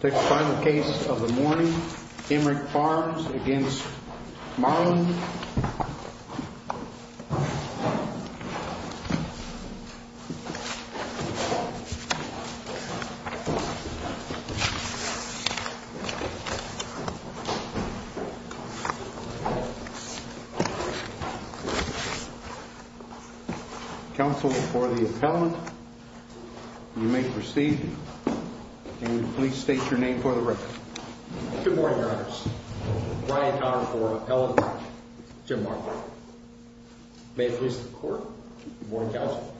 Take the final case of the morning, Emmerick Farms v. Marlen. Counsel for the appellant, you may proceed, and please state your name for the record. Good morning, Your Honors. Brian Connor for the appellant, Jim Marlen. May it please the court, the morning counsel.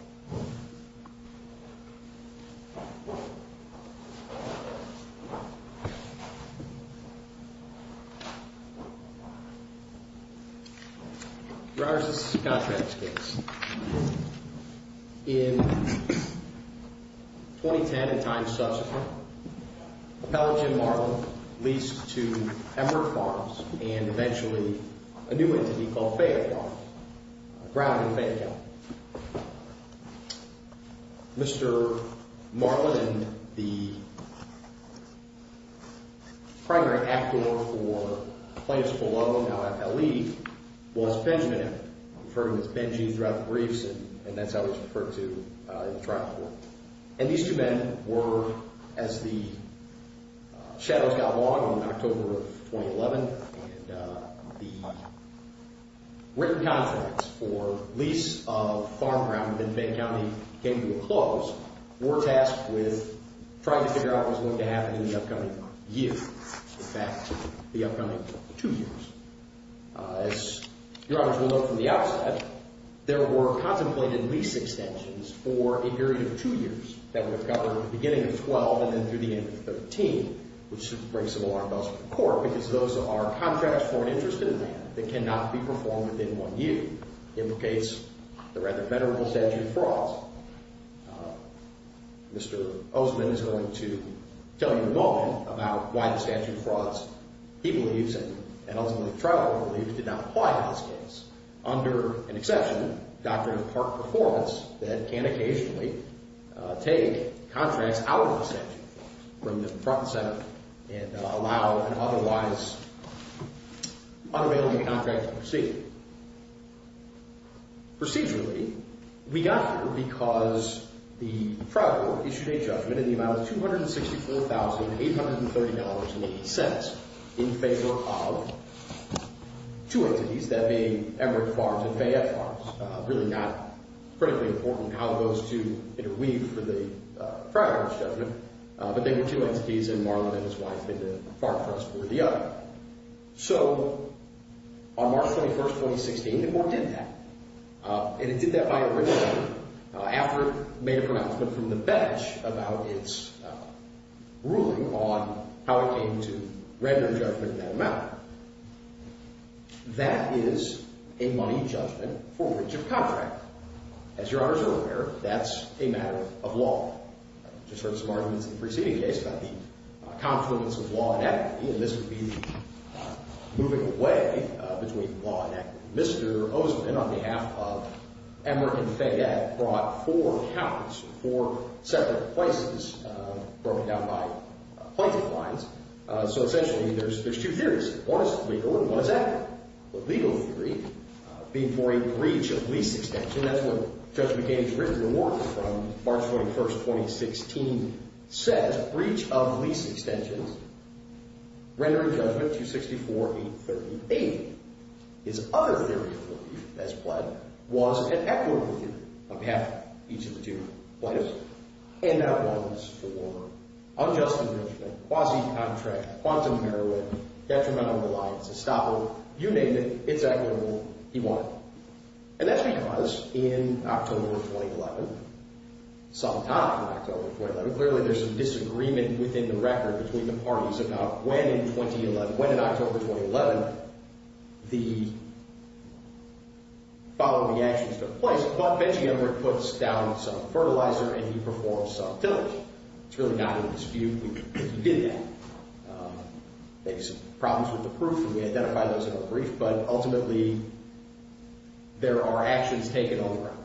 Your Honor, this is a contract case. In 2010 and time subsequent, appellant Jim Marlen leased to Emmerick Farms and eventually a new entity called Fayette Farms, Brown v. Fayette Hill. Mr. Marlen, the primary actor for plaintiff's full-level, now FLE, was Benjamin Emmerick. I'm referring to Ms. Benjy throughout the briefs, and that's how it's referred to in the trial court. And these two men were, as the shadows got long in October of 2011, and the written contracts for lease of farm ground in Fayette County came to a close, were tasked with trying to figure out what was going to happen in the upcoming year, in fact, the upcoming two years. As Your Honors will note from the outset, there were contemplated lease extensions for a period of two years that would have covered the beginning of 12 and then through the end of 13, which should bring some alarm bells to the court, because those are contracts for an interest in land that cannot be performed within one year. Mr. Osmond is going to tell you in a moment about why the statute of frauds he believes and, ultimately, the trial court believes did not apply in this case. Under an exception, Doctrine of Part Performance, that can occasionally take contracts out of the statute from the front and center and allow an otherwise unavailable contract to proceed. Procedurally, we got here because the trial court issued a judgment in the amount of $264,830.80 in favor of two entities, that being Emory Farms and Fayette Farms. Really not critically important how those two interweave for the trial court's judgment, but they were two entities and Marlin and his wife at the farm trust were the other. So on March 21, 2016, the court did that, and it did that by a written judgment after it made a pronouncement from the bench about its ruling on how it came to render judgment in that amount. That is a money judgment for breach of contract. As your honors are aware, that's a matter of law. I just heard some arguments in the preceding case about the confluence of law and equity, and this would be moving away between law and equity. Mr. Oseman, on behalf of Emory and Fayette, brought four counts, four separate places broken down by pointing lines. So essentially, there's two theories. The legal theory being for a breach of lease extension. That's what Judge McCain's written reward from March 21, 2016 says, breach of lease extensions, rendering judgment $264,830.80. His other theory of relief, as pled, was an equitable theory on behalf of each of the two plaintiffs, and that was for unjust enrichment, quasi-contract, quantum heroin, detrimental reliance, estoppel. You named it. It's equitable. He won. And that's because in October 2011, some time in October 2011, clearly there's some disagreement within the record between the parties about when in October 2011 the following actions took place. But Benji Emory puts down some fertilizer, and he performs some utility. It's really not in dispute because he did that. Maybe some problems with the proof, and we identified those in our brief, but ultimately, there are actions taken on the ground.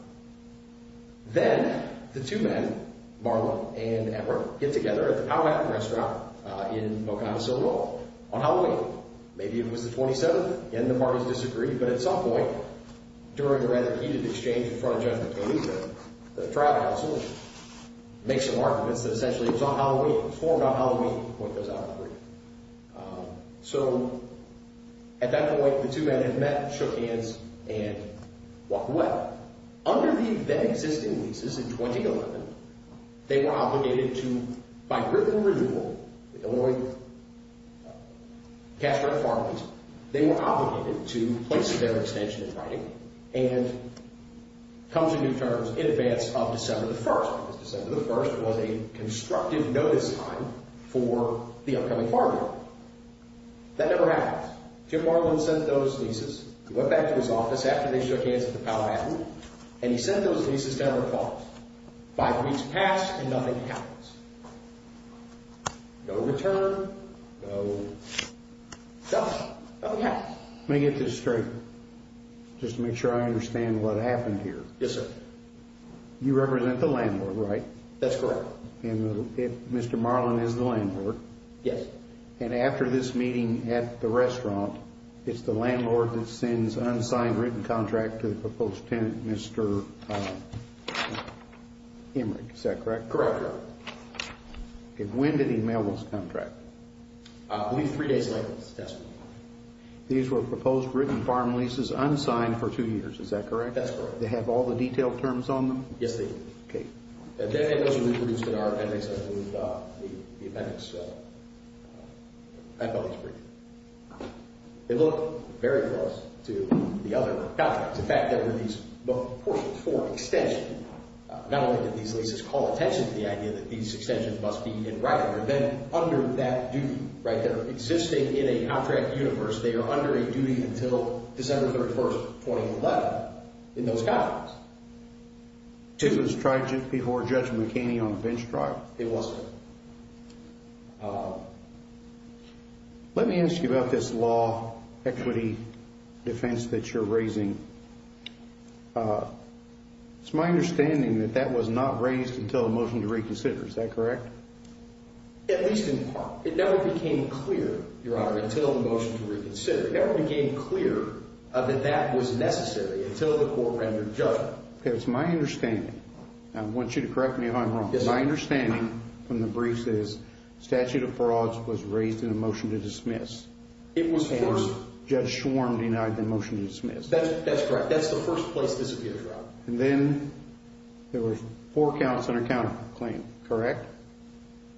Then the two men, Marla and Emory, get together at the Powhatan Restaurant in Mocana, Sonoma on Halloween. Maybe it was the 27th, and the parties disagreed. But at some point during a rather heated exchange in front of Judgment Day, the trial counsel makes some arguments that essentially it was on Halloween. It was formed on Halloween. The point goes out in the brief. So at that point, the two men had met, shook hands, and walked away. But under the then-existing leases in 2011, they were obligated to, by written renewal, the Illinois cash rate farm lease, they were obligated to place their extension in writing and come to new terms in advance of December the 1st. Because December the 1st was a constructive notice time for the upcoming farm bill. That never happens. Jim Marlin sent those leases. He went back to his office after they shook hands at the Powhatan, and he sent those leases to Emory Falls. Five weeks passed, and nothing happens. No return, no nothing. Nothing happens. Let me get this straight, just to make sure I understand what happened here. Yes, sir. You represent the landlord, right? That's correct. And Mr. Marlin is the landlord? Yes. And after this meeting at the restaurant, it's the landlord that sends unsigned written contract to the proposed tenant, Mr. Emory. Is that correct? Correct. And when did he mail this contract? I believe three days later. These were proposed written farm leases unsigned for two years. Is that correct? That's correct. They have all the detailed terms on them? Yes, they do. Okay. And then it wasn't reproduced in our appendix. I moved the appendix. I thought it was pretty good. It looked very close to the other contracts. In fact, there were these book portions for extension. Not only did these leases call attention to the idea that these extensions must be in writing, they're then under that duty, right? They're existing in a contract universe. They are under a duty until December 31, 2011 in those contracts. It was tried before Judge McKinney on a bench trial? It was. Let me ask you about this law equity defense that you're raising. It's my understanding that that was not raised until the motion to reconsider. Is that correct? At least in part. It never became clear that that was necessary until the court rendered judgment. It's my understanding. I want you to correct me if I'm wrong. Yes, sir. My understanding from the briefs is statute of frauds was raised in a motion to dismiss. It was, of course. And Judge Schwarm denied the motion to dismiss. That's correct. That's the first place this appeared, Robert. And then there were four counts under counterclaim, correct?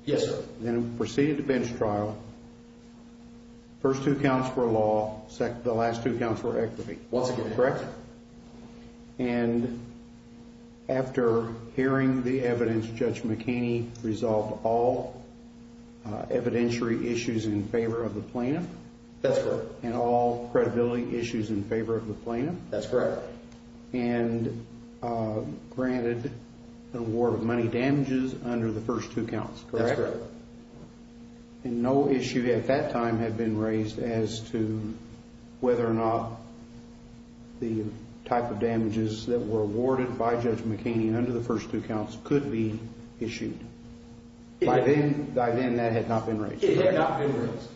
Yes, sir. Then proceeded to bench trial. First two counts were law. The last two counts were equity. Once again. Correct? And after hearing the evidence, Judge McKinney resolved all evidentiary issues in favor of the plaintiff? That's correct. And all credibility issues in favor of the plaintiff? That's correct. And granted an award of money damages under the first two counts, correct? That's correct. And no issue at that time had been raised as to whether or not the type of damages that were awarded by Judge McKinney under the first two counts could be issued. By then, that had not been raised. It had not been raised.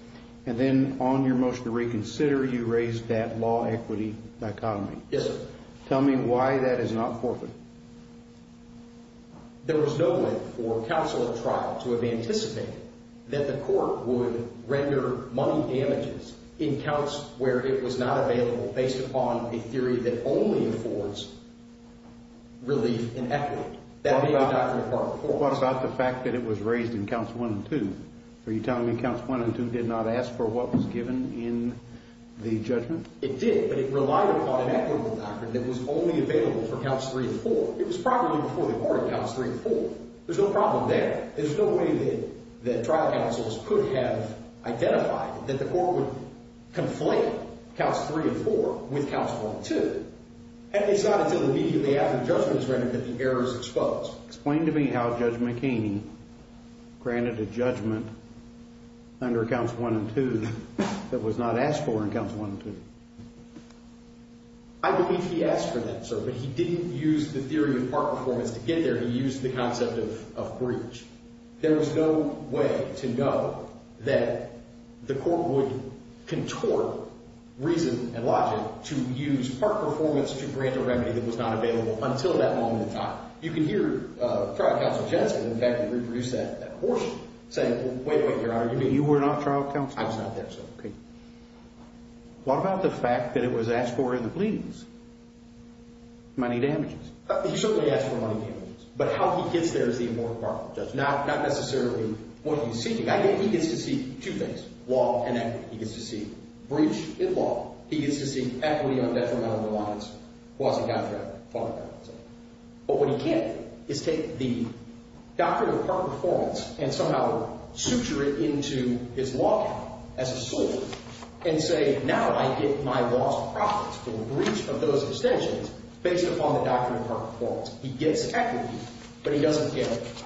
And then on your motion to reconsider, you raised that law equity dichotomy. Yes, sir. Tell me why that is not forfeit. There was no way for counsel at trial to have anticipated that the court would render money damages in counts where it was not available based upon a theory that only affords relief in equity. That may have not been a part of the court. What about the fact that it was raised in counts one and two? Are you telling me counts one and two did not ask for what was given in the judgment? It did, but it relied upon an equity doctrine that was only available for counts three and four. It was properly before the court in counts three and four. There's no problem there. There's no way that trial counsels could have identified that the court would conflate counts three and four with counts one and two. And it's not until immediately after the judgment is rendered that the error is exposed. Explain to me how Judge McKean granted a judgment under counts one and two that was not asked for in counts one and two. I believe he asked for that, sir, but he didn't use the theory of part performance to get there. He used the concept of breach. There was no way to know that the court would contort reason and logic to use part performance to grant a remedy that was not available until that moment in time. You can hear trial counsel Jensen, in fact, who reproduced that abortion, saying, well, wait, wait, Your Honor, you mean you were not trial counsel? I was not there, sir. Okay. What about the fact that it was asked for in the pleadings? Money damages. He certainly asked for money damages, but how he gets there is the important part of the judgment, not necessarily what he's seeking. He gets to seek two things, law and equity. He gets to seek breach in law. He gets to seek equity on detrimental reliance. It wasn't got there. But what he can't do is take the doctrine of part performance and somehow suture it into his law count as a sword and say, now I get my law's profits for the breach of those extensions based upon the doctrine of part performance. He gets equity, but he doesn't get it.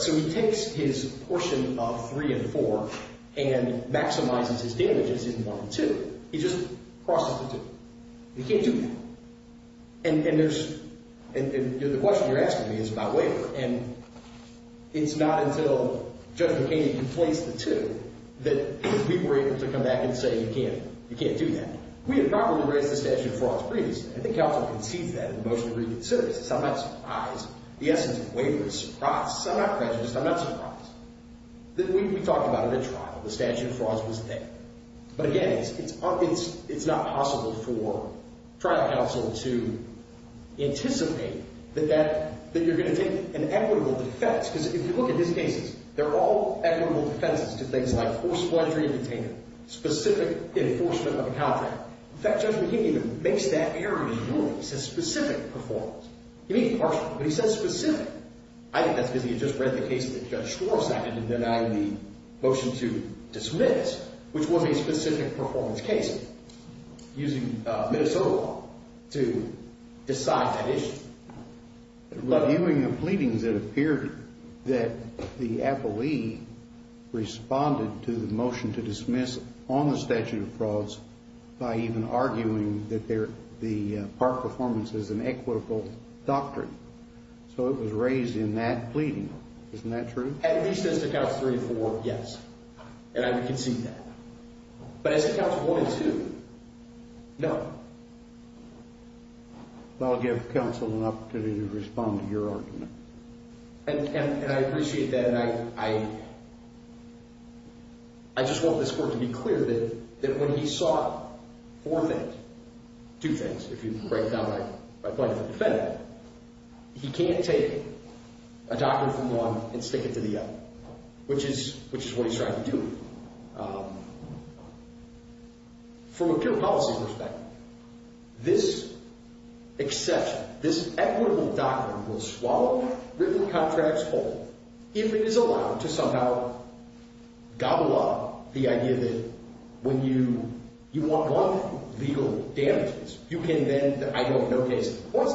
So he takes his portion of three and four and maximizes his damages in one and two. He just crosses the two. He can't do that. And there's – and the question you're asking me is about waiver, and it's not until Judge McCaney conflates the two that we were able to come back and say you can't do that. We had properly raised the statute of frauds previously. I think counsel concedes that in the motion of grievance services. I'm not surprised. The essence of waiver is surprise. I'm not prejudiced. I'm not surprised. We talked about it at trial. The statute of frauds was there. But again, it's not possible for trial counsel to anticipate that that – that you're going to take an equitable defense because if you look at his cases, they're all equitable defenses to things like forced pledgery and detainment, specific enforcement of a contract. In fact, Judge McCaney even makes that error in his ruling. He says specific performance. He means partial, but he says specific. I think that's because he had just read the case that Judge Schwartz had to deny the motion to dismiss, which was a specific performance case, using Minnesota law to decide that issue. Reviewing the pleadings, it appeared that the appellee responded to the motion to dismiss on the statute of frauds by even arguing that the part performance is an equitable doctrine. So it was raised in that pleading. Isn't that true? At least as to Council 3 and 4, yes. And I would concede that. But as to Council 1 and 2, no. I'll give counsel an opportunity to respond to your argument. And I appreciate that. And I just want this court to be clear that when he saw four things – two things, if you break down my point of the defendant – he can't take a doctrine from one and stick it to the other, which is what he's trying to do. From a pure policy perspective, this exception, this equitable doctrine will swallow written contracts whole if it is allowed to somehow gobble up the idea that when you want legal damages, you can then – I know of no case in the courts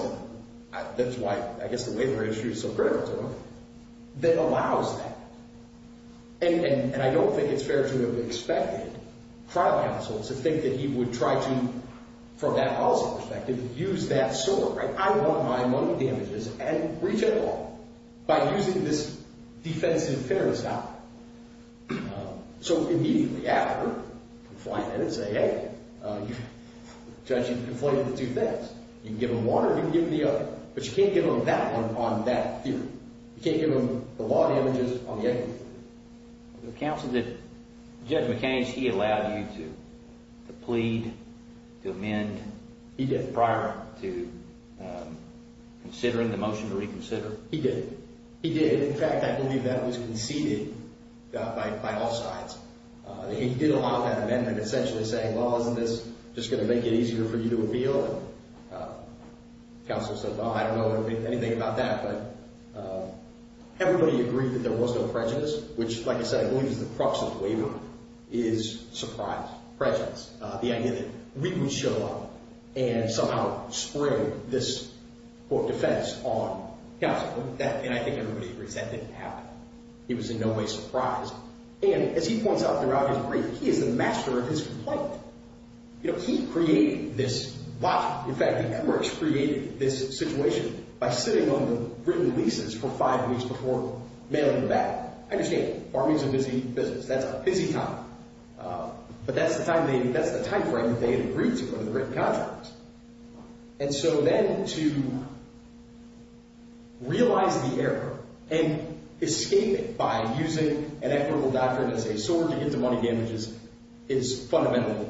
that – that's why I guess the waiver industry is so critical to it – that allows that. And I don't think it's fair to have expected trial counsel to think that he would try to, from that policy perspective, use that sword, right? I want my money damages and reach it all by using this defense in fairness doctrine. So immediately after, you can fly in and say, hey, judge, you've conflated the two things. You can give them one or you can give them the other. But you can't give them that one on that theory. You can't give them the law damages on the other. The counsel did – Judge McKay, he allowed you to plead, to amend prior to considering the motion to reconsider? He did. He did. In fact, I believe that was conceded by all sides. He did allow that amendment, essentially saying, well, isn't this just going to make it easier for you to appeal? Counsel says, oh, I don't know anything about that. But everybody agreed that there was no prejudice, which, like I said, I believe is the crux of the waiver, is surprise, prejudice. The idea that we would show up and somehow spread this court defense on counsel. And I think everybody agrees that didn't happen. He was in no way surprised. And as he points out throughout his brief, he is the master of his complaint. He created this – in fact, the Emirates created this situation by sitting on the written leases for five weeks before mailing them back. I understand. Farming is a busy business. That's a busy time. But that's the timeframe that they had agreed to under the written contract. And so then to realize the error and escape it by using an equitable doctrine as a sword to get to money damages is fundamentally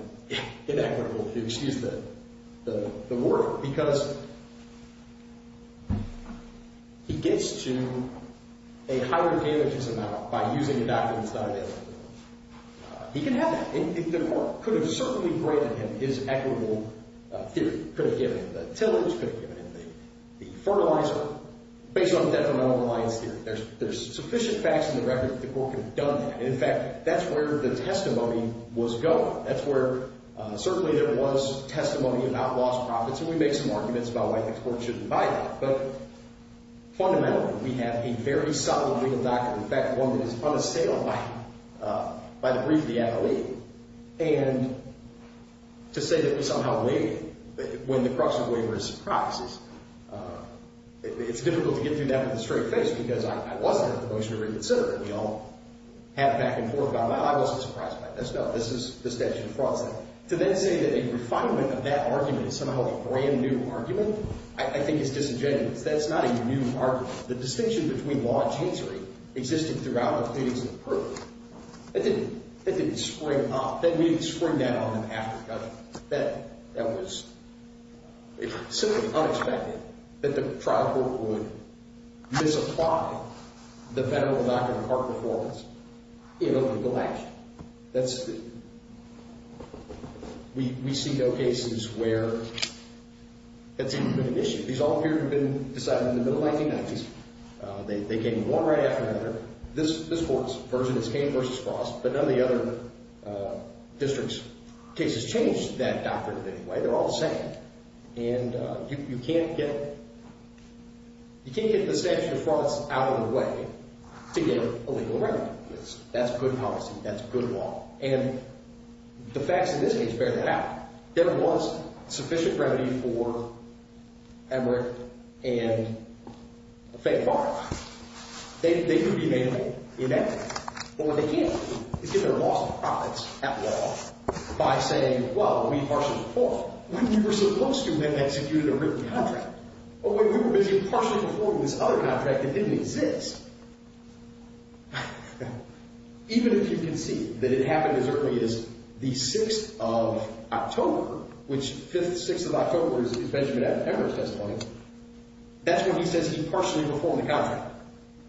inequitable. Excuse the word. Because he gets to a higher damages amount by using a doctrine that's not an equitable one. He can have that. And the court could have certainly granted him his equitable theory, could have given him the tillage, could have given him the fertilizer based on detrimental reliance theory. There's sufficient facts in the record that the court could have done that. And, in fact, that's where the testimony was going. That's where – certainly there was testimony about lost profits, and we make some arguments about why the court shouldn't buy that. But fundamentally, we have a very solid legal doctrine, in fact, one that is on a sale by the brief of the MLE. And to say that we somehow believe it when the crux of the waiver is surprises, it's difficult to get through that with a straight face because I wasn't at the motion to reconsider it. We all have back and forth about, well, I wasn't surprised by this. No, this is the statute of frauds. So to then say that a refinement of that argument is somehow a brand-new argument, I think it's disingenuous. That's not a new argument. The distinction between law and chancery existed throughout the proceedings of the proof. That didn't spring up. We didn't spring that on them after the judgment. That was simply unexpected that the trial court would misapply the federal doctrine of part performance in a legal action. We see no cases where that's even been an issue. These all appear to have been decided in the middle of the 1990s. They came one right after another. This court's version is Kane v. Frost, but none of the other districts' cases changed that doctrine in any way. They're all the same. And you can't get the statute of frauds out of the way to get a legal remedy. That's good policy. That's good law. And the facts in this case bear that out. There was sufficient remedy for Emmerich and Fayette Park. They could be made inept. But what they can't do is get their loss of profits at law by saying, well, we partially performed. We were supposed to have executed a written contract. Well, we were partially performing this other contract that didn't exist. Even if you can see that it happened as early as the 6th of October, which 5th, 6th of October is Benjamin Emmerich's testimony, that's when he says he partially performed the contract.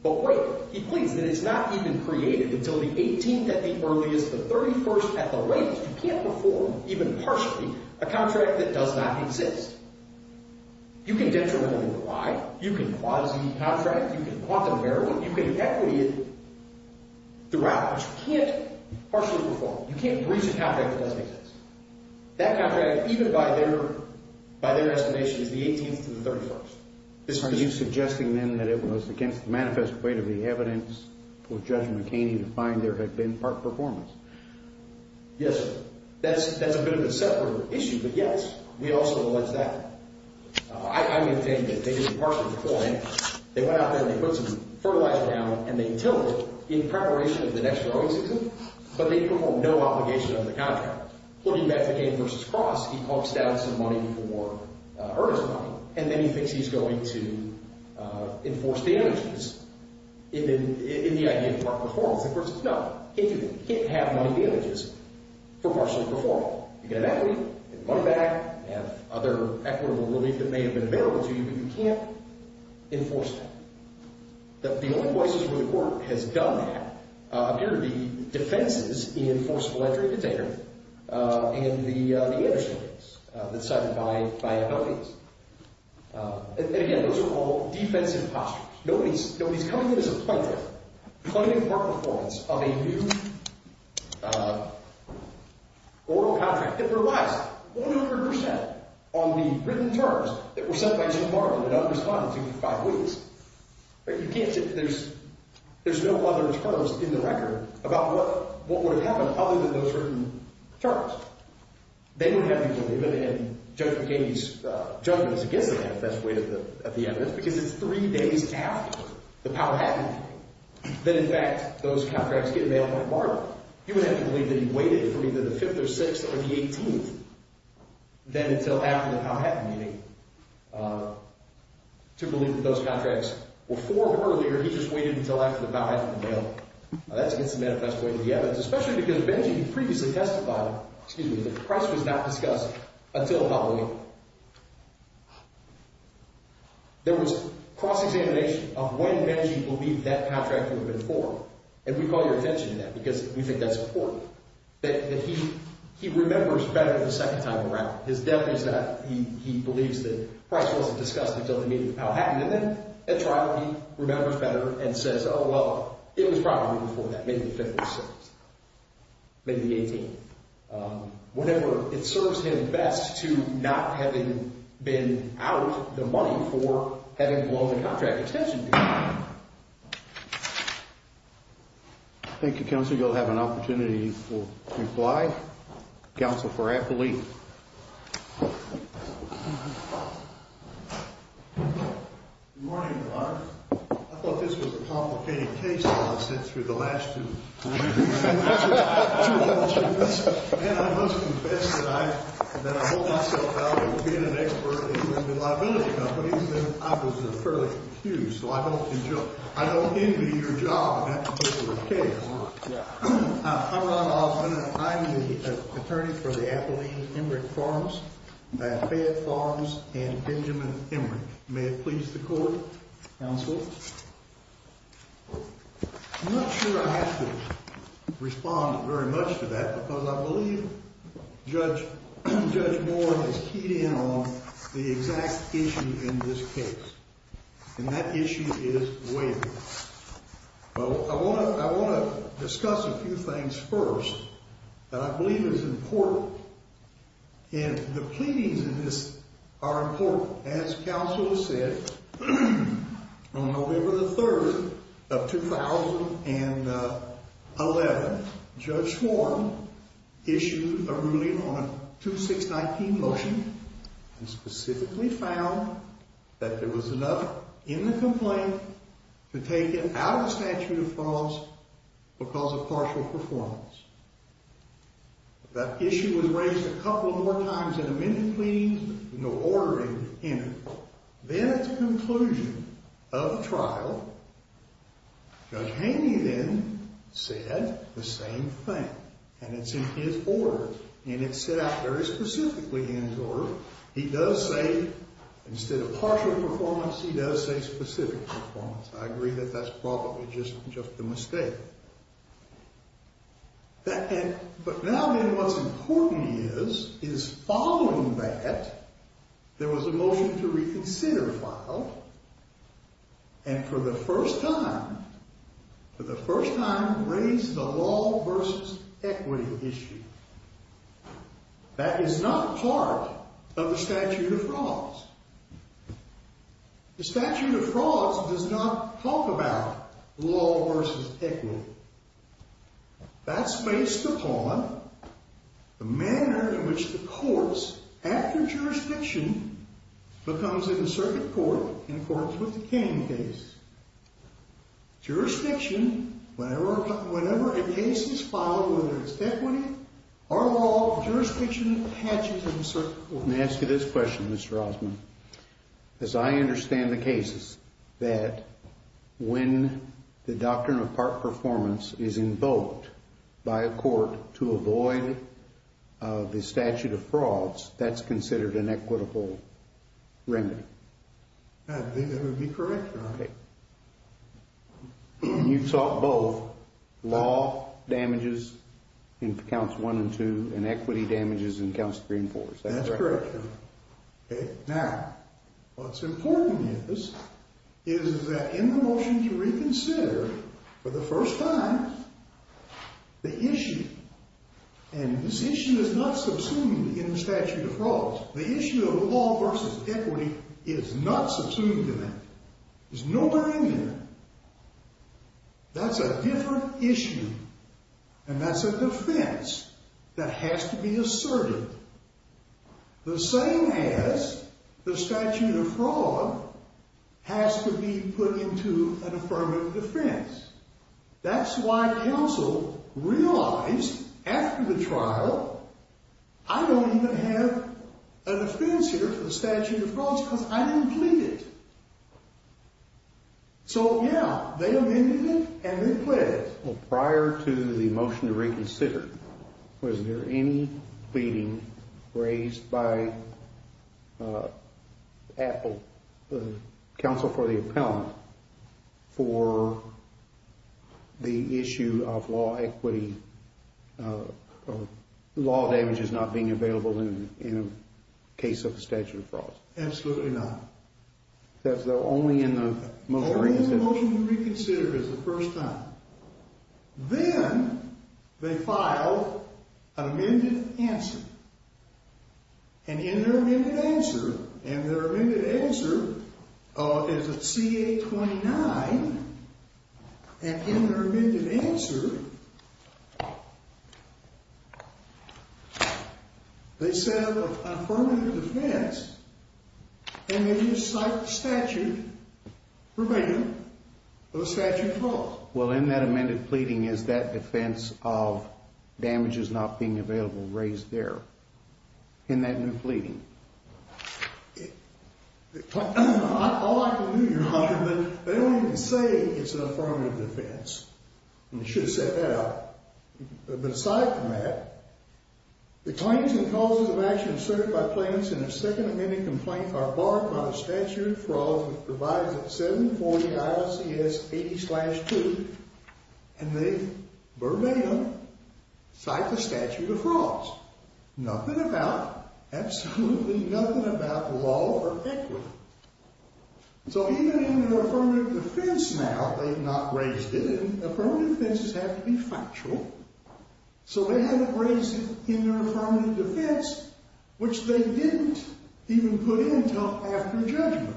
But wait. He pleads that it's not even created until the 18th at the earliest, the 31st at the latest. You can't perform, even partially, a contract that does not exist. You can get to a limit of why. You can quasi-contract. You can quantum-error it. You can equity it throughout. But you can't partially perform. You can't breach a contract that doesn't exist. That contract, even by their estimation, is the 18th to the 31st. Are you suggesting, then, that it was against the manifest weight of the evidence for Judge McHaney to find there had been park performance? Yes, sir. That's a bit of a separate issue. But, yes, we also allege that. I maintain that they didn't partially perform it. They went out there and they put some fertilizer down, and they tilled it in preparation of the next growing season, but they performed no obligation under the contract. Looking back to McCain v. Cross, he pumps down some money for earnest money, and then he thinks he's going to enforce damages in the idea of park performance. Of course, no. He can't do that. He can't have money damages for partially performing. You get an equity. You can run it back. You have other equitable relief that may have been available to you, but you can't enforce that. The only places where the court has done that appear to be defenses in Forcible Entry Detainer and the Anderson case that's cited by abilities. And, again, those are all defensive postures. Nobody's coming in as a plaintiff. Plaintiff park performance of a new oral contract that relies 100 percent on the written terms that were set by Jim Martin and unresponded to in five weeks. There's no other post in the record about what would have happened other than those written terms. They would have to believe it, and Judge McCain's judgment is against the manifest way of the evidence because it's three days after the Powhatan meeting that, in fact, those contracts get mailed to Martin. He would have to believe that he waited for either the 5th or 6th or the 18th then until after the Powhatan meeting to believe that those contracts were formed earlier. He just waited until after the Powhatan was mailed. That's against the manifest way of the evidence, especially because Benji previously testified that Price was not discussed until Halloween. There was cross-examination of when Benji believed that contract would have been formed, and we call your attention to that because we think that's important, that he remembers better the second time around. He believes that Price wasn't discussed until the meeting with Powhatan, and then at trial he remembers better and says, oh, well, it was probably before that, maybe the 5th or 6th, maybe the 18th. Whatever, it serves him best to not having been out the money for having blown the contract. Thank you, Counsel. You'll have an opportunity to reply. Counsel for Appley. Good morning, Your Honor. I thought this was a complicated case all of a sudden through the last two meetings. And I must confess that I hold myself out of being an expert in the liability companies, and I was fairly confused. So I don't envy your job in that particular case. I'm Ron Hoffman, and I'm the attorney for the Appley-Emerick Farms, Fayette Farms, and Benjamin Emerick. May it please the Court. Counsel. I'm not sure I have to respond very much to that because I believe Judge Moore has keyed in on the exact issue in this case, and that issue is waiver. I want to discuss a few things first that I believe is important. And the pleadings in this are important. As counsel has said, on November the 3rd of 2011, Judge Schwarm issued a ruling on a 2619 motion and specifically found that there was enough in the complaint to take it out of the statute of frauds because of partial performance. That issue was raised a couple more times in a minute pleadings with no ordering in it. Then at the conclusion of the trial, Judge Haney then said the same thing. And it's in his order, and it's set out very specifically in his order. He does say, instead of partial performance, he does say specific performance. I agree that that's probably just a mistake. But now then, what's important is, is following that, there was a motion to reconsider filed, and for the first time, for the first time, raised the law versus equity issue. That is not part of the statute of frauds. The statute of frauds does not talk about law versus equity. That's based upon the manner in which the courts, after jurisdiction, becomes an inserted court in accordance with the Canning case. Jurisdiction, whenever a case is filed, whether it's equity or law, jurisdiction hatches an insert court. Let me ask you this question, Mr. Rosman. As I understand the cases, that when the doctrine of part performance is invoked by a court to avoid the statute of frauds, that's considered an equitable remedy. That would be correct, Your Honor. Okay. You've sought both law damages in counts one and two, and equity damages in counts three and four. That's correct, Your Honor. Okay. Now, what's important is, is that in the motion to reconsider, for the first time, the issue, and this issue is not subsumed in the statute of frauds. The issue of law versus equity is not subsumed in that. It's nowhere in there. That's a different issue, and that's a defense that has to be asserted, the same as the statute of fraud has to be put into an affirmative defense. That's why counsel realized after the trial, I don't even have a defense here for the statute of frauds because I didn't plead it. So, yeah, they amended it, and they pled it. Well, prior to the motion to reconsider, was there any pleading raised by Apple, the counsel for the appellant, for the issue of law equity, law damages not being available in a case of the statute of frauds? Absolutely not. That's only in the motion to reconsider. Only in the motion to reconsider is the first time. Then they filed an amended answer, and in their amended answer, and their amended answer is a CA-29, and in their amended answer, they set up an affirmative defense, and it is like the statute prevailing for the statute of frauds. Well, in that amended pleading, is that defense of damages not being available raised there in that new pleading? All I can do, Your Honor, but they don't even say it's an affirmative defense, and they should have set that up. But aside from that, the claims and causes of action asserted by plaintiffs in the second amended complaint are barred by the statute of frauds, which provides at 740 IOCS 80-2, and they verbatim cite the statute of frauds. Nothing about, absolutely nothing about law or equity. So even in their affirmative defense now, they've not raised it, and affirmative defenses have to be factual. So they haven't raised it in their affirmative defense, which they didn't even put in until after judgment.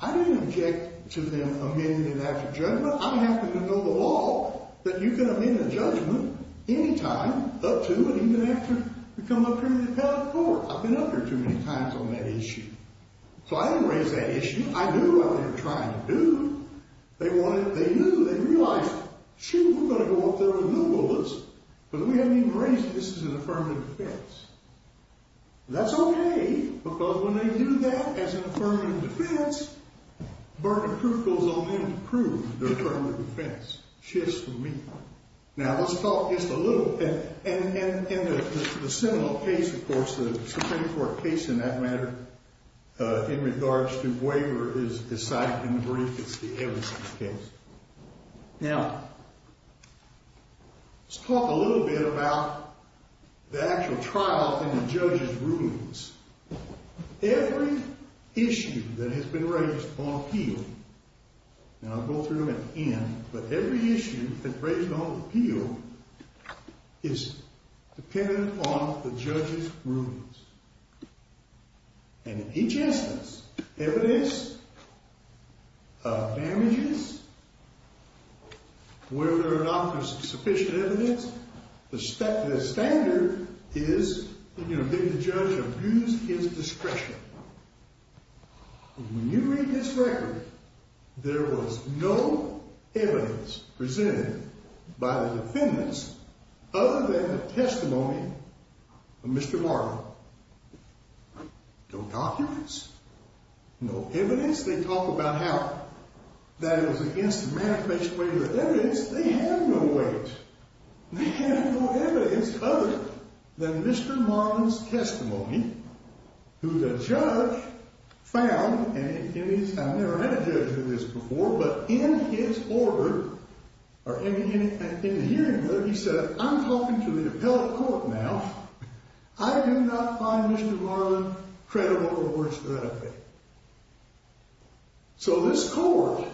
I didn't object to them amending it after judgment. Remember, I happen to know the law that you can amend a judgment any time, up to, and even after you come up here to the appellate court. I've been up here too many times on that issue. So I didn't raise that issue. I knew what they were trying to do. They wanted it. They knew. They realized, shoot, we're going to go up there with new bullets, but we haven't even raised it. This is an affirmative defense. That's okay, because when they do that as an affirmative defense, burden of proof goes on them to prove their affirmative defense. Shifts from me. Now, let's talk just a little bit, and the similar case, of course, the Supreme Court case in that matter, in regards to waiver is cited in the brief. It's the Everson case. Now, let's talk a little bit about the actual trial and the judge's rulings. Every issue that has been raised on appeal, and I'll go through them at the end, but every issue that's raised on appeal is dependent upon the judge's rulings. And in each instance, evidence of damages, whether or not there's sufficient evidence, the standard is that the judge abuse his discretion. When you read this record, there was no evidence presented by the defendants other than the testimony of Mr. Martin. No documents, no evidence. They talk about how that it was against the manifest way of evidence. They have no evidence. They have no evidence other than Mr. Martin's testimony, who the judge found, and I've never had a judge do this before, but in his order, or in the hearing order, he said, I'm talking to the appellate court now. I do not find Mr. Martin credible or worth threatening. So this court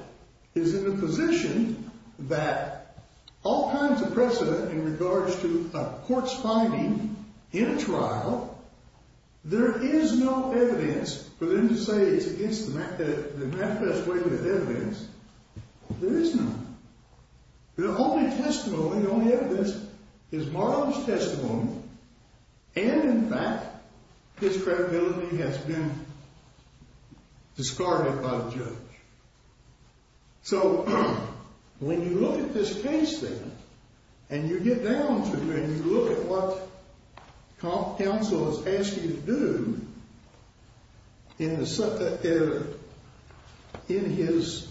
is in a position that all kinds of precedent in regards to a court's finding in a trial, there is no evidence for them to say it's against the manifest way of evidence. There is none. The only testimony, the only evidence is Martin's testimony, and in fact, his credibility has been discarded by the judge. So when you look at this case then, and you get down to it, and you look at what counsel has asked you to do in his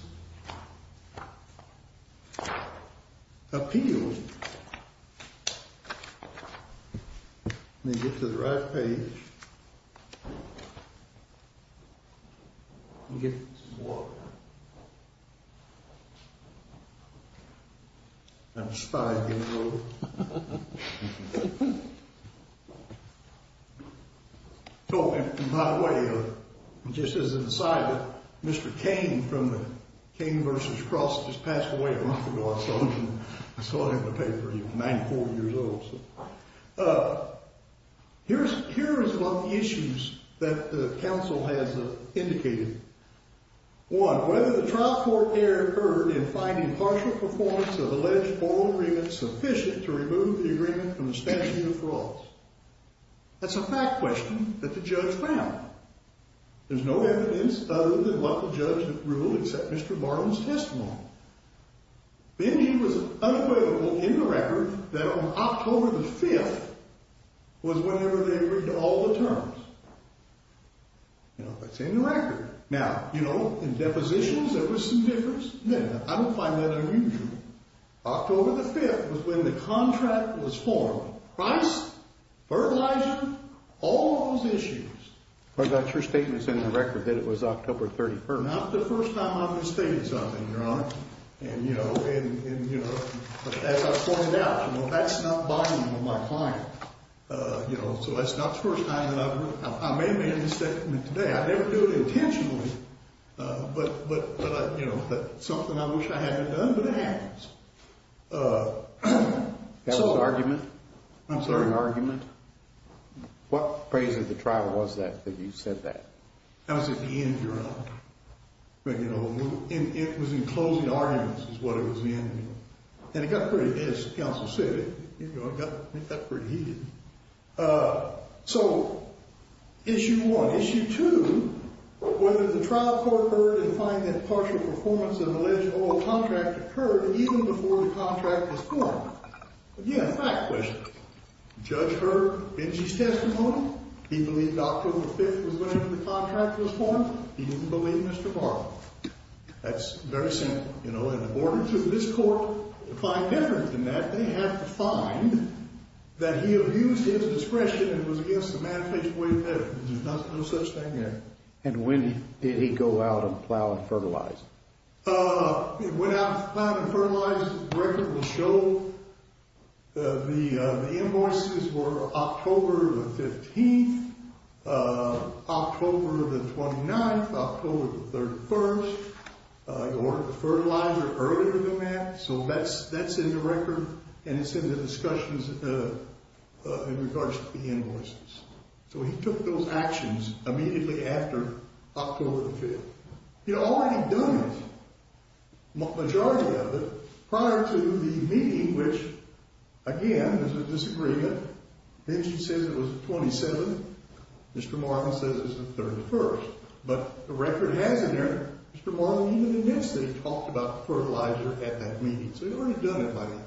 appeal, let me get to the right page, let me get some water. I'm a spy, you know. Oh, and by the way, just as an aside, Mr. Kane from the Kane vs. Cross just passed away a month ago. I saw him in the paper. He was 94 years old. Here is one of the issues that the counsel has indicated. One, whether the trial court error occurred in finding partial performance of alleged formal agreement sufficient to remove the agreement from the statute of frauds. That's a fact question that the judge found. There's no evidence other than what the judge had ruled except Mr. Martin's testimony. Then he was unequivocal in the record that on October the 5th was whenever they agreed to all the terms. That's in the record. Now, you know, in depositions there was some difference. I don't find that unusual. October the 5th was when the contract was formed. Price, fertilizer, all those issues. But that's your statement's in the record that it was October 31st. Not the first time I've misstated something, Your Honor. And, you know, and, you know, as I pointed out, you know, that's not binding on my client. You know, so that's not the first time. I may have made a misstatement today. I never do it intentionally. But, you know, it's something I wish I hadn't done, but it happens. That was an argument? I'm sorry? An argument? What phrase of the trial was that that you said that? That was at the end, Your Honor. But, you know, it was in closing arguments is what it was in. And it got pretty heated, as counsel said. You know, it got pretty heated. So, issue one. Issue two, whether the trial court heard and find that partial performance of an alleged oil contract occurred even before the contract was formed. Again, a fact question. Judge heard Benji's testimony. He believed October 5th was when the contract was formed. He didn't believe Mr. Bartlett. That's very simple. You know, in order for this court to find evidence in that, they have to find that he abused his discretion and was against the man faced with evidence. There's no such thing there. And when did he go out and plow and fertilize? He went out and plowed and fertilized. The record will show the invoices were October the 15th, October the 29th, October the 31st. He ordered the fertilizer earlier than that. So that's in the record, and it's in the discussions in regards to the invoices. So he took those actions immediately after October the 5th. He had already done it, the majority of it, prior to the meeting, which, again, there's a disagreement. Benji says it was the 27th. Mr. Marlin says it was the 31st. But the record has it there. Mr. Marlin even immensely talked about fertilizer at that meeting. So he'd already done it by then.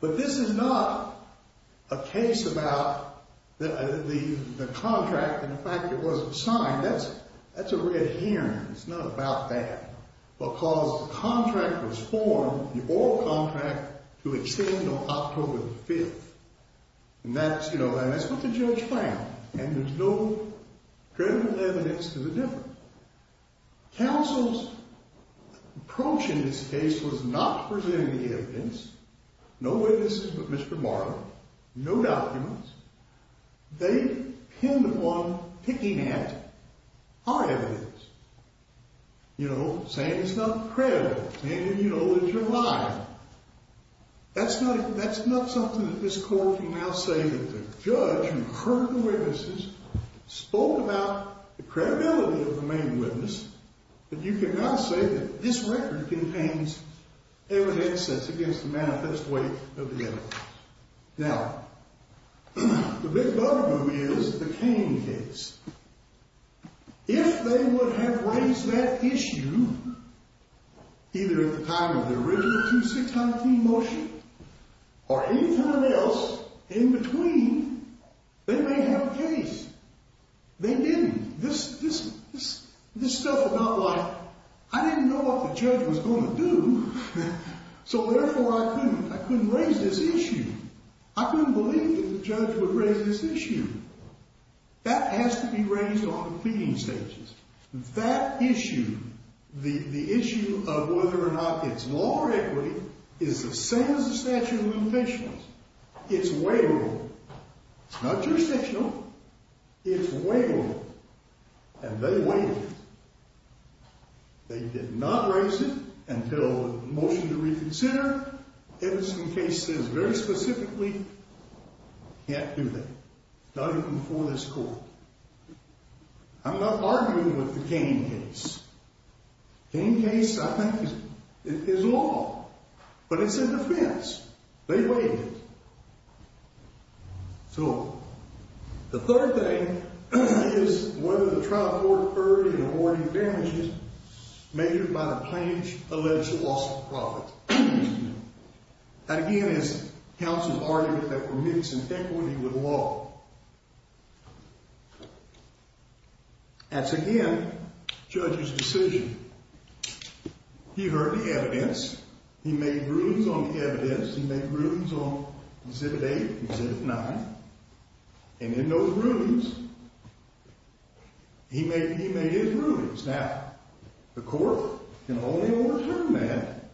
But this is not a case about the contract and the fact it wasn't signed. That's a red herring. It's not about that. Because the contract was formed, the oral contract, to extend on October the 5th. And that's what the judge found. And there's no credible evidence to the difference. Counsel's approach in this case was not to present any evidence, no witnesses but Mr. Marlin, no documents. They pinned upon picking at our evidence, you know, saying it's not credible, saying, you know, that you're lying. That's not something that this court can now say that the judge who heard the witnesses spoke about the credibility of the main witness. But you can now say that this record contains evidence that's against the manifest weight of the evidence. Now, the big bugaboo is the Cain case. If they would have raised that issue either at the time of the original 2613 motion or any time else in between, they may have a case. They didn't. This stuff about, like, I didn't know what the judge was going to do. So, therefore, I couldn't. I couldn't raise this issue. I couldn't believe that the judge would raise this issue. That has to be raised on the pleading stages. That issue, the issue of whether or not it's law or equity, is the same as the statute of limitations. It's waivable. It's not jurisdictional. It's waivable. And they waived it. They did not raise it until the motion to reconsider. Edison case says very specifically, can't do that. Not even before this court. I'm not arguing with the Cain case. Cain case, I think, is law. But it's in defense. They waived it. So, the third thing is whether the trial court heard in awarding damages measured by the plaintiff's alleged loss of profit. That, again, is counsel's argument that permits inequity with law. That's, again, judge's decision. He heard the evidence. He made rulings on the evidence. He made rulings on Exhibit 8 and Exhibit 9. And in those rulings, he made his rulings. Now, the court can only overturn that,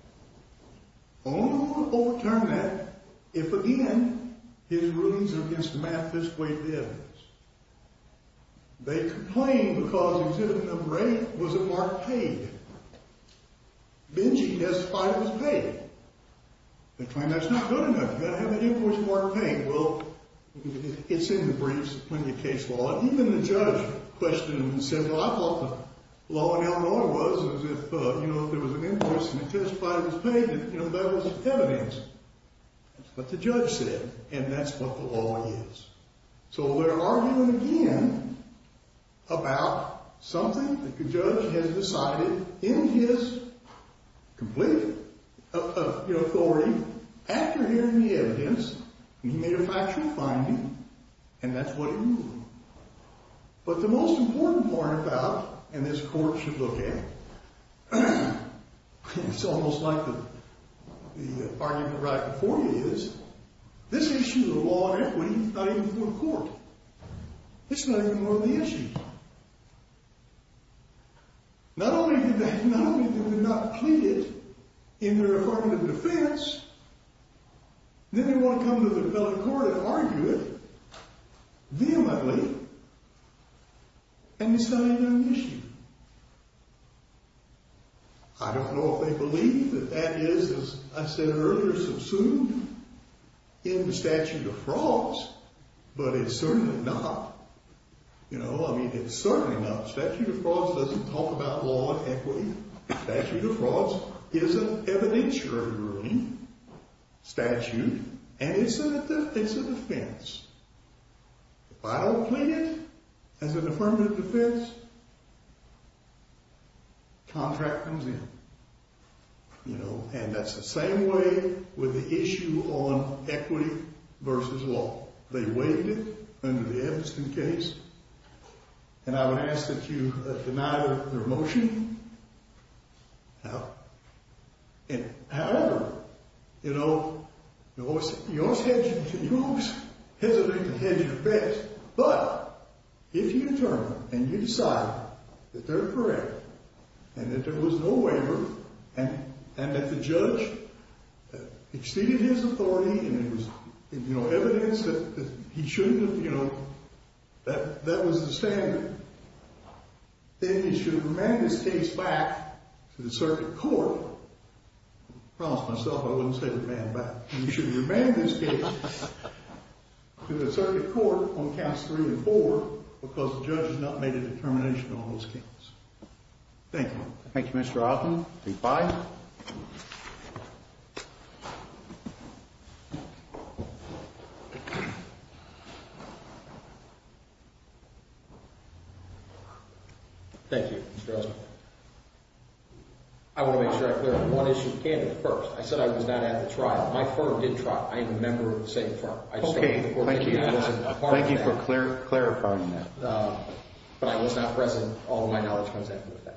only overturn that if, again, his rulings are against the math this way, the evidence. They complained because Exhibit number 8 was a marked page. Then she testified it was paid. They claimed that's not good enough. You've got to have an invoice marked paid. Well, it's in the briefs, plenty of case law. Even the judge questioned and said, well, I thought the law in Illinois was as if, you know, if there was an interest and it testified it was paid, you know, that was evidence. That's what the judge said. And that's what the law is. So they're arguing again about something that the judge has decided in his complete authority after hearing the evidence. And he made a factual finding. And that's what he ruled. But the most important part about, and this court should look at, it's almost like the argument right before you is, this issue of law and equity, it's not even before the court. It's not even on the issue. Not only did they not plead it in their affirmative defense, then they want to come to the appellate court and argue it vehemently, and it's not even on the issue. I don't know if they believe that that is, as I said earlier, subsumed in the statute of frauds, but it's certainly not. You know, I mean, it's certainly not. The statute of frauds doesn't talk about law and equity. The statute of frauds is an evidentiary ruling statute, and it's a defense. If I don't plead it as an affirmative defense, contract comes in. You know, and that's the same way with the issue on equity versus law. They waived it under the Edmundston case, and I would ask that you deny their motion. However, you know, you always hesitate to hedge your bets, but if you determine and you decide that they're correct and that there was no waiver and that the judge exceeded his authority and there was evidence that he shouldn't have, you know, that was the standard, then you should remand this case back to the circuit court. I promised myself I wouldn't say remand back. You should remand this case to the circuit court on counts three and four because the judge has not made a determination on those counts. Thank you. Thank you, Mr. Alton. Please, bye. Thank you, Mr. Oster. I want to make sure I clear up one issue of candidate first. I said I was not at the trial. My firm did trial. I am a member of the same firm. I just don't think the court made a decision apart from that. Thank you for clarifying that. But I was not present. All of my knowledge comes after the fact.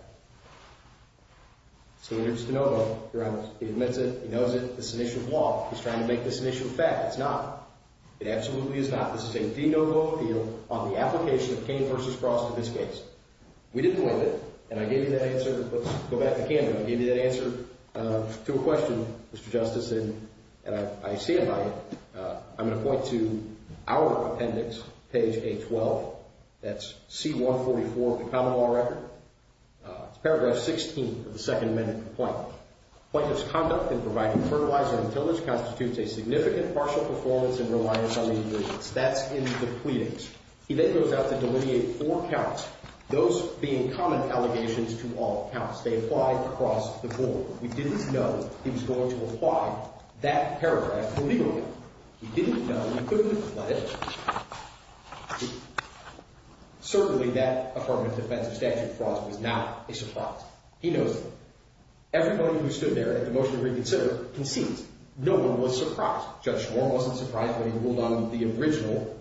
So here's DeNovo. He admits it. He knows it. This is an issue of law. He's trying to make this an issue of fact. It's not. It absolutely is not. This is a DeNovo appeal on the application of Kane v. Frost in this case. We didn't win it. And I gave you that answer. Let's go back to the candidate. I gave you that answer to a question, Mr. Justice, and I stand by it. I'm going to point to our appendix, page 812. That's C-144 of the common law record. It's paragraph 16 of the Second Amendment complaint. That's in the pleadings. He then goes out to delineate four counts, those being common allegations to all counts. They apply across the board. We didn't know he was going to apply that paragraph illegally. We didn't know. We couldn't have let it. Certainly, that affirmative defensive statute of Frost was not a surprise. He knows it. Everybody who stood there at the motion to reconsider concedes. No one was surprised. Judge Schwarm wasn't surprised when he ruled on the original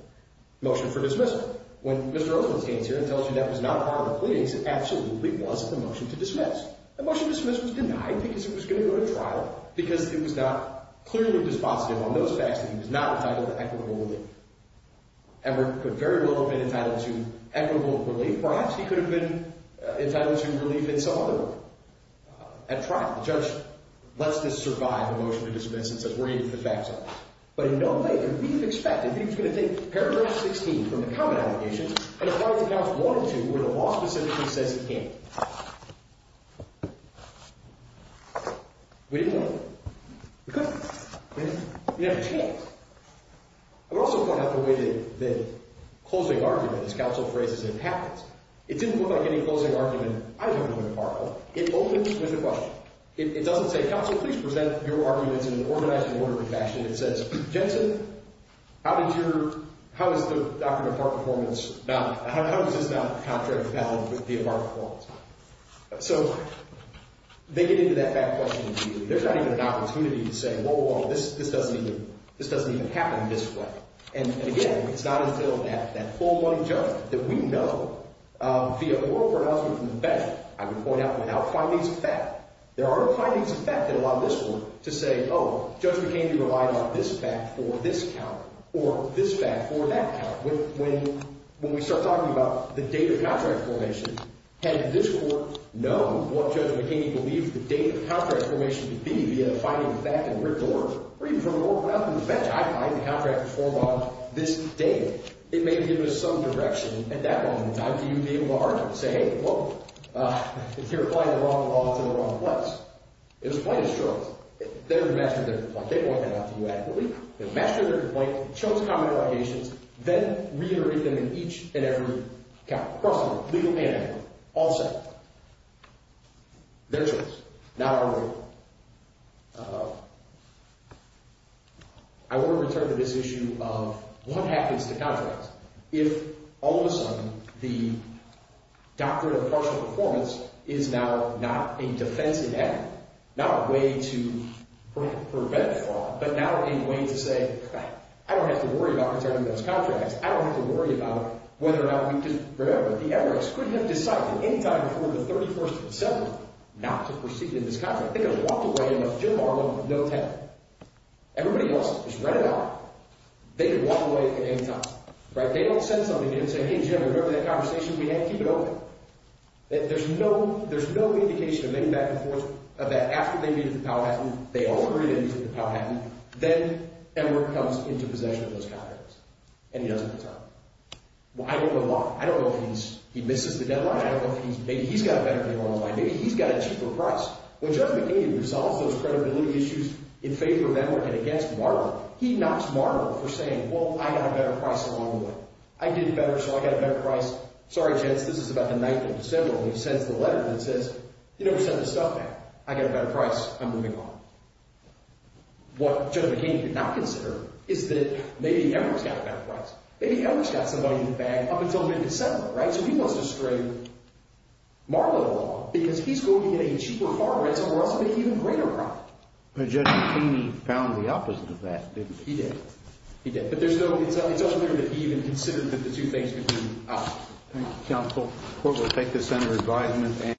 motion for dismissal. When Mr. Othman stands here and tells you that was not part of the pleadings, it absolutely was the motion to dismiss. The motion to dismiss was denied because it was going to go to trial because it was not clearly dispositive on those facts that he was not entitled to equitable relief. Edward could very well have been entitled to equitable relief. Perhaps he could have been entitled to relief in some other way. At trial, the judge lets this survive the motion to dismiss and says, we're going to get the facts out. But in no way could we have expected that he was going to take paragraph 16 from the common allegations and apply it to counts 1 and 2 where the law specifically says he can't. We didn't know. We couldn't. We didn't have a chance. I would also point out the way that the closing argument, as counsel phrases it, happens. It didn't look like any closing argument either to McFarlow. It opens with a question. It doesn't say, counsel, please present your arguments in an organized and orderly fashion. It says, Jensen, how is the doctrine of part performance valid? How is this not contrary to the doctrine of part performance? So they get into that back question immediately. There's not even an opportunity to say, whoa, whoa, this doesn't even happen this way. And again, it's not until that full-blown judgment that we know via oral pronouncement from the bench, I would point out, without findings of fact, there are no findings of fact that allow this court to say, oh, Judge McHaney relied on this fact for this count or this fact for that count. When we start talking about the date of contract formation, had this court known what Judge McHaney believed the date of the contract formation to be via the finding of fact and written order, or even from an oral pronouncement from the bench, I find the contract performed on this date. It may have given us some direction at that moment in time to be able to argue and say, hey, well, you're applying the wrong law to the wrong place. It was plain as truth. They're the master of their complaint. They want that out to you adequately. They're the master of their complaint. They chose common allegations. Then reiterate them in each and every count. Cross-court, legal panhandle, all set. Their choice, not our way. I want to return to this issue of what happens to contracts if, all of a sudden, the doctrine of partial performance is now not a defensive avenue, not a way to prevent fraud, but now a way to say, all right, I don't have to worry about returning those contracts. I don't have to worry about whether or not we can – remember, the Everett's couldn't have decided any time before the 31st of September not to proceed in this contract. They could have walked away in a Jim Harman no-tell. Everybody else has read it out. They could walk away at any time. They don't send somebody in and say, hey, Jim, remember that conversation we had? Keep it open. There's no indication of any back and forth that after they meet at the Powhatan, they order it in to the Powhatan. Then Everett comes into possession of those contracts, and he doesn't return them. I don't know why. I don't know if he misses the deadline. I don't know if he's – maybe he's got a better deal on the line. Maybe he's got a cheaper price. When Judge McCain resolves those credibility issues in favor of Everett and against Marble, he knocks Marble for saying, well, I got a better price along the way. I did better, so I got a better price. Sorry, gents, this is about the 9th of December, and he sends the letter that says he never sent his stuff back. I got a better price. I'm moving on. What Judge McCain did not consider is that maybe Everett's got a better price. Maybe Everett's got somebody in the bag up until mid-December, right? So he wants to string Marble along because he's going to get a cheaper farm rental for us to make an even greater profit. But Judge McCain found the opposite of that, didn't he? He did. He did. But there's no – it's unclear that he even considered that the two things could be an option. Thank you, Counsel. Court will take this under advisement.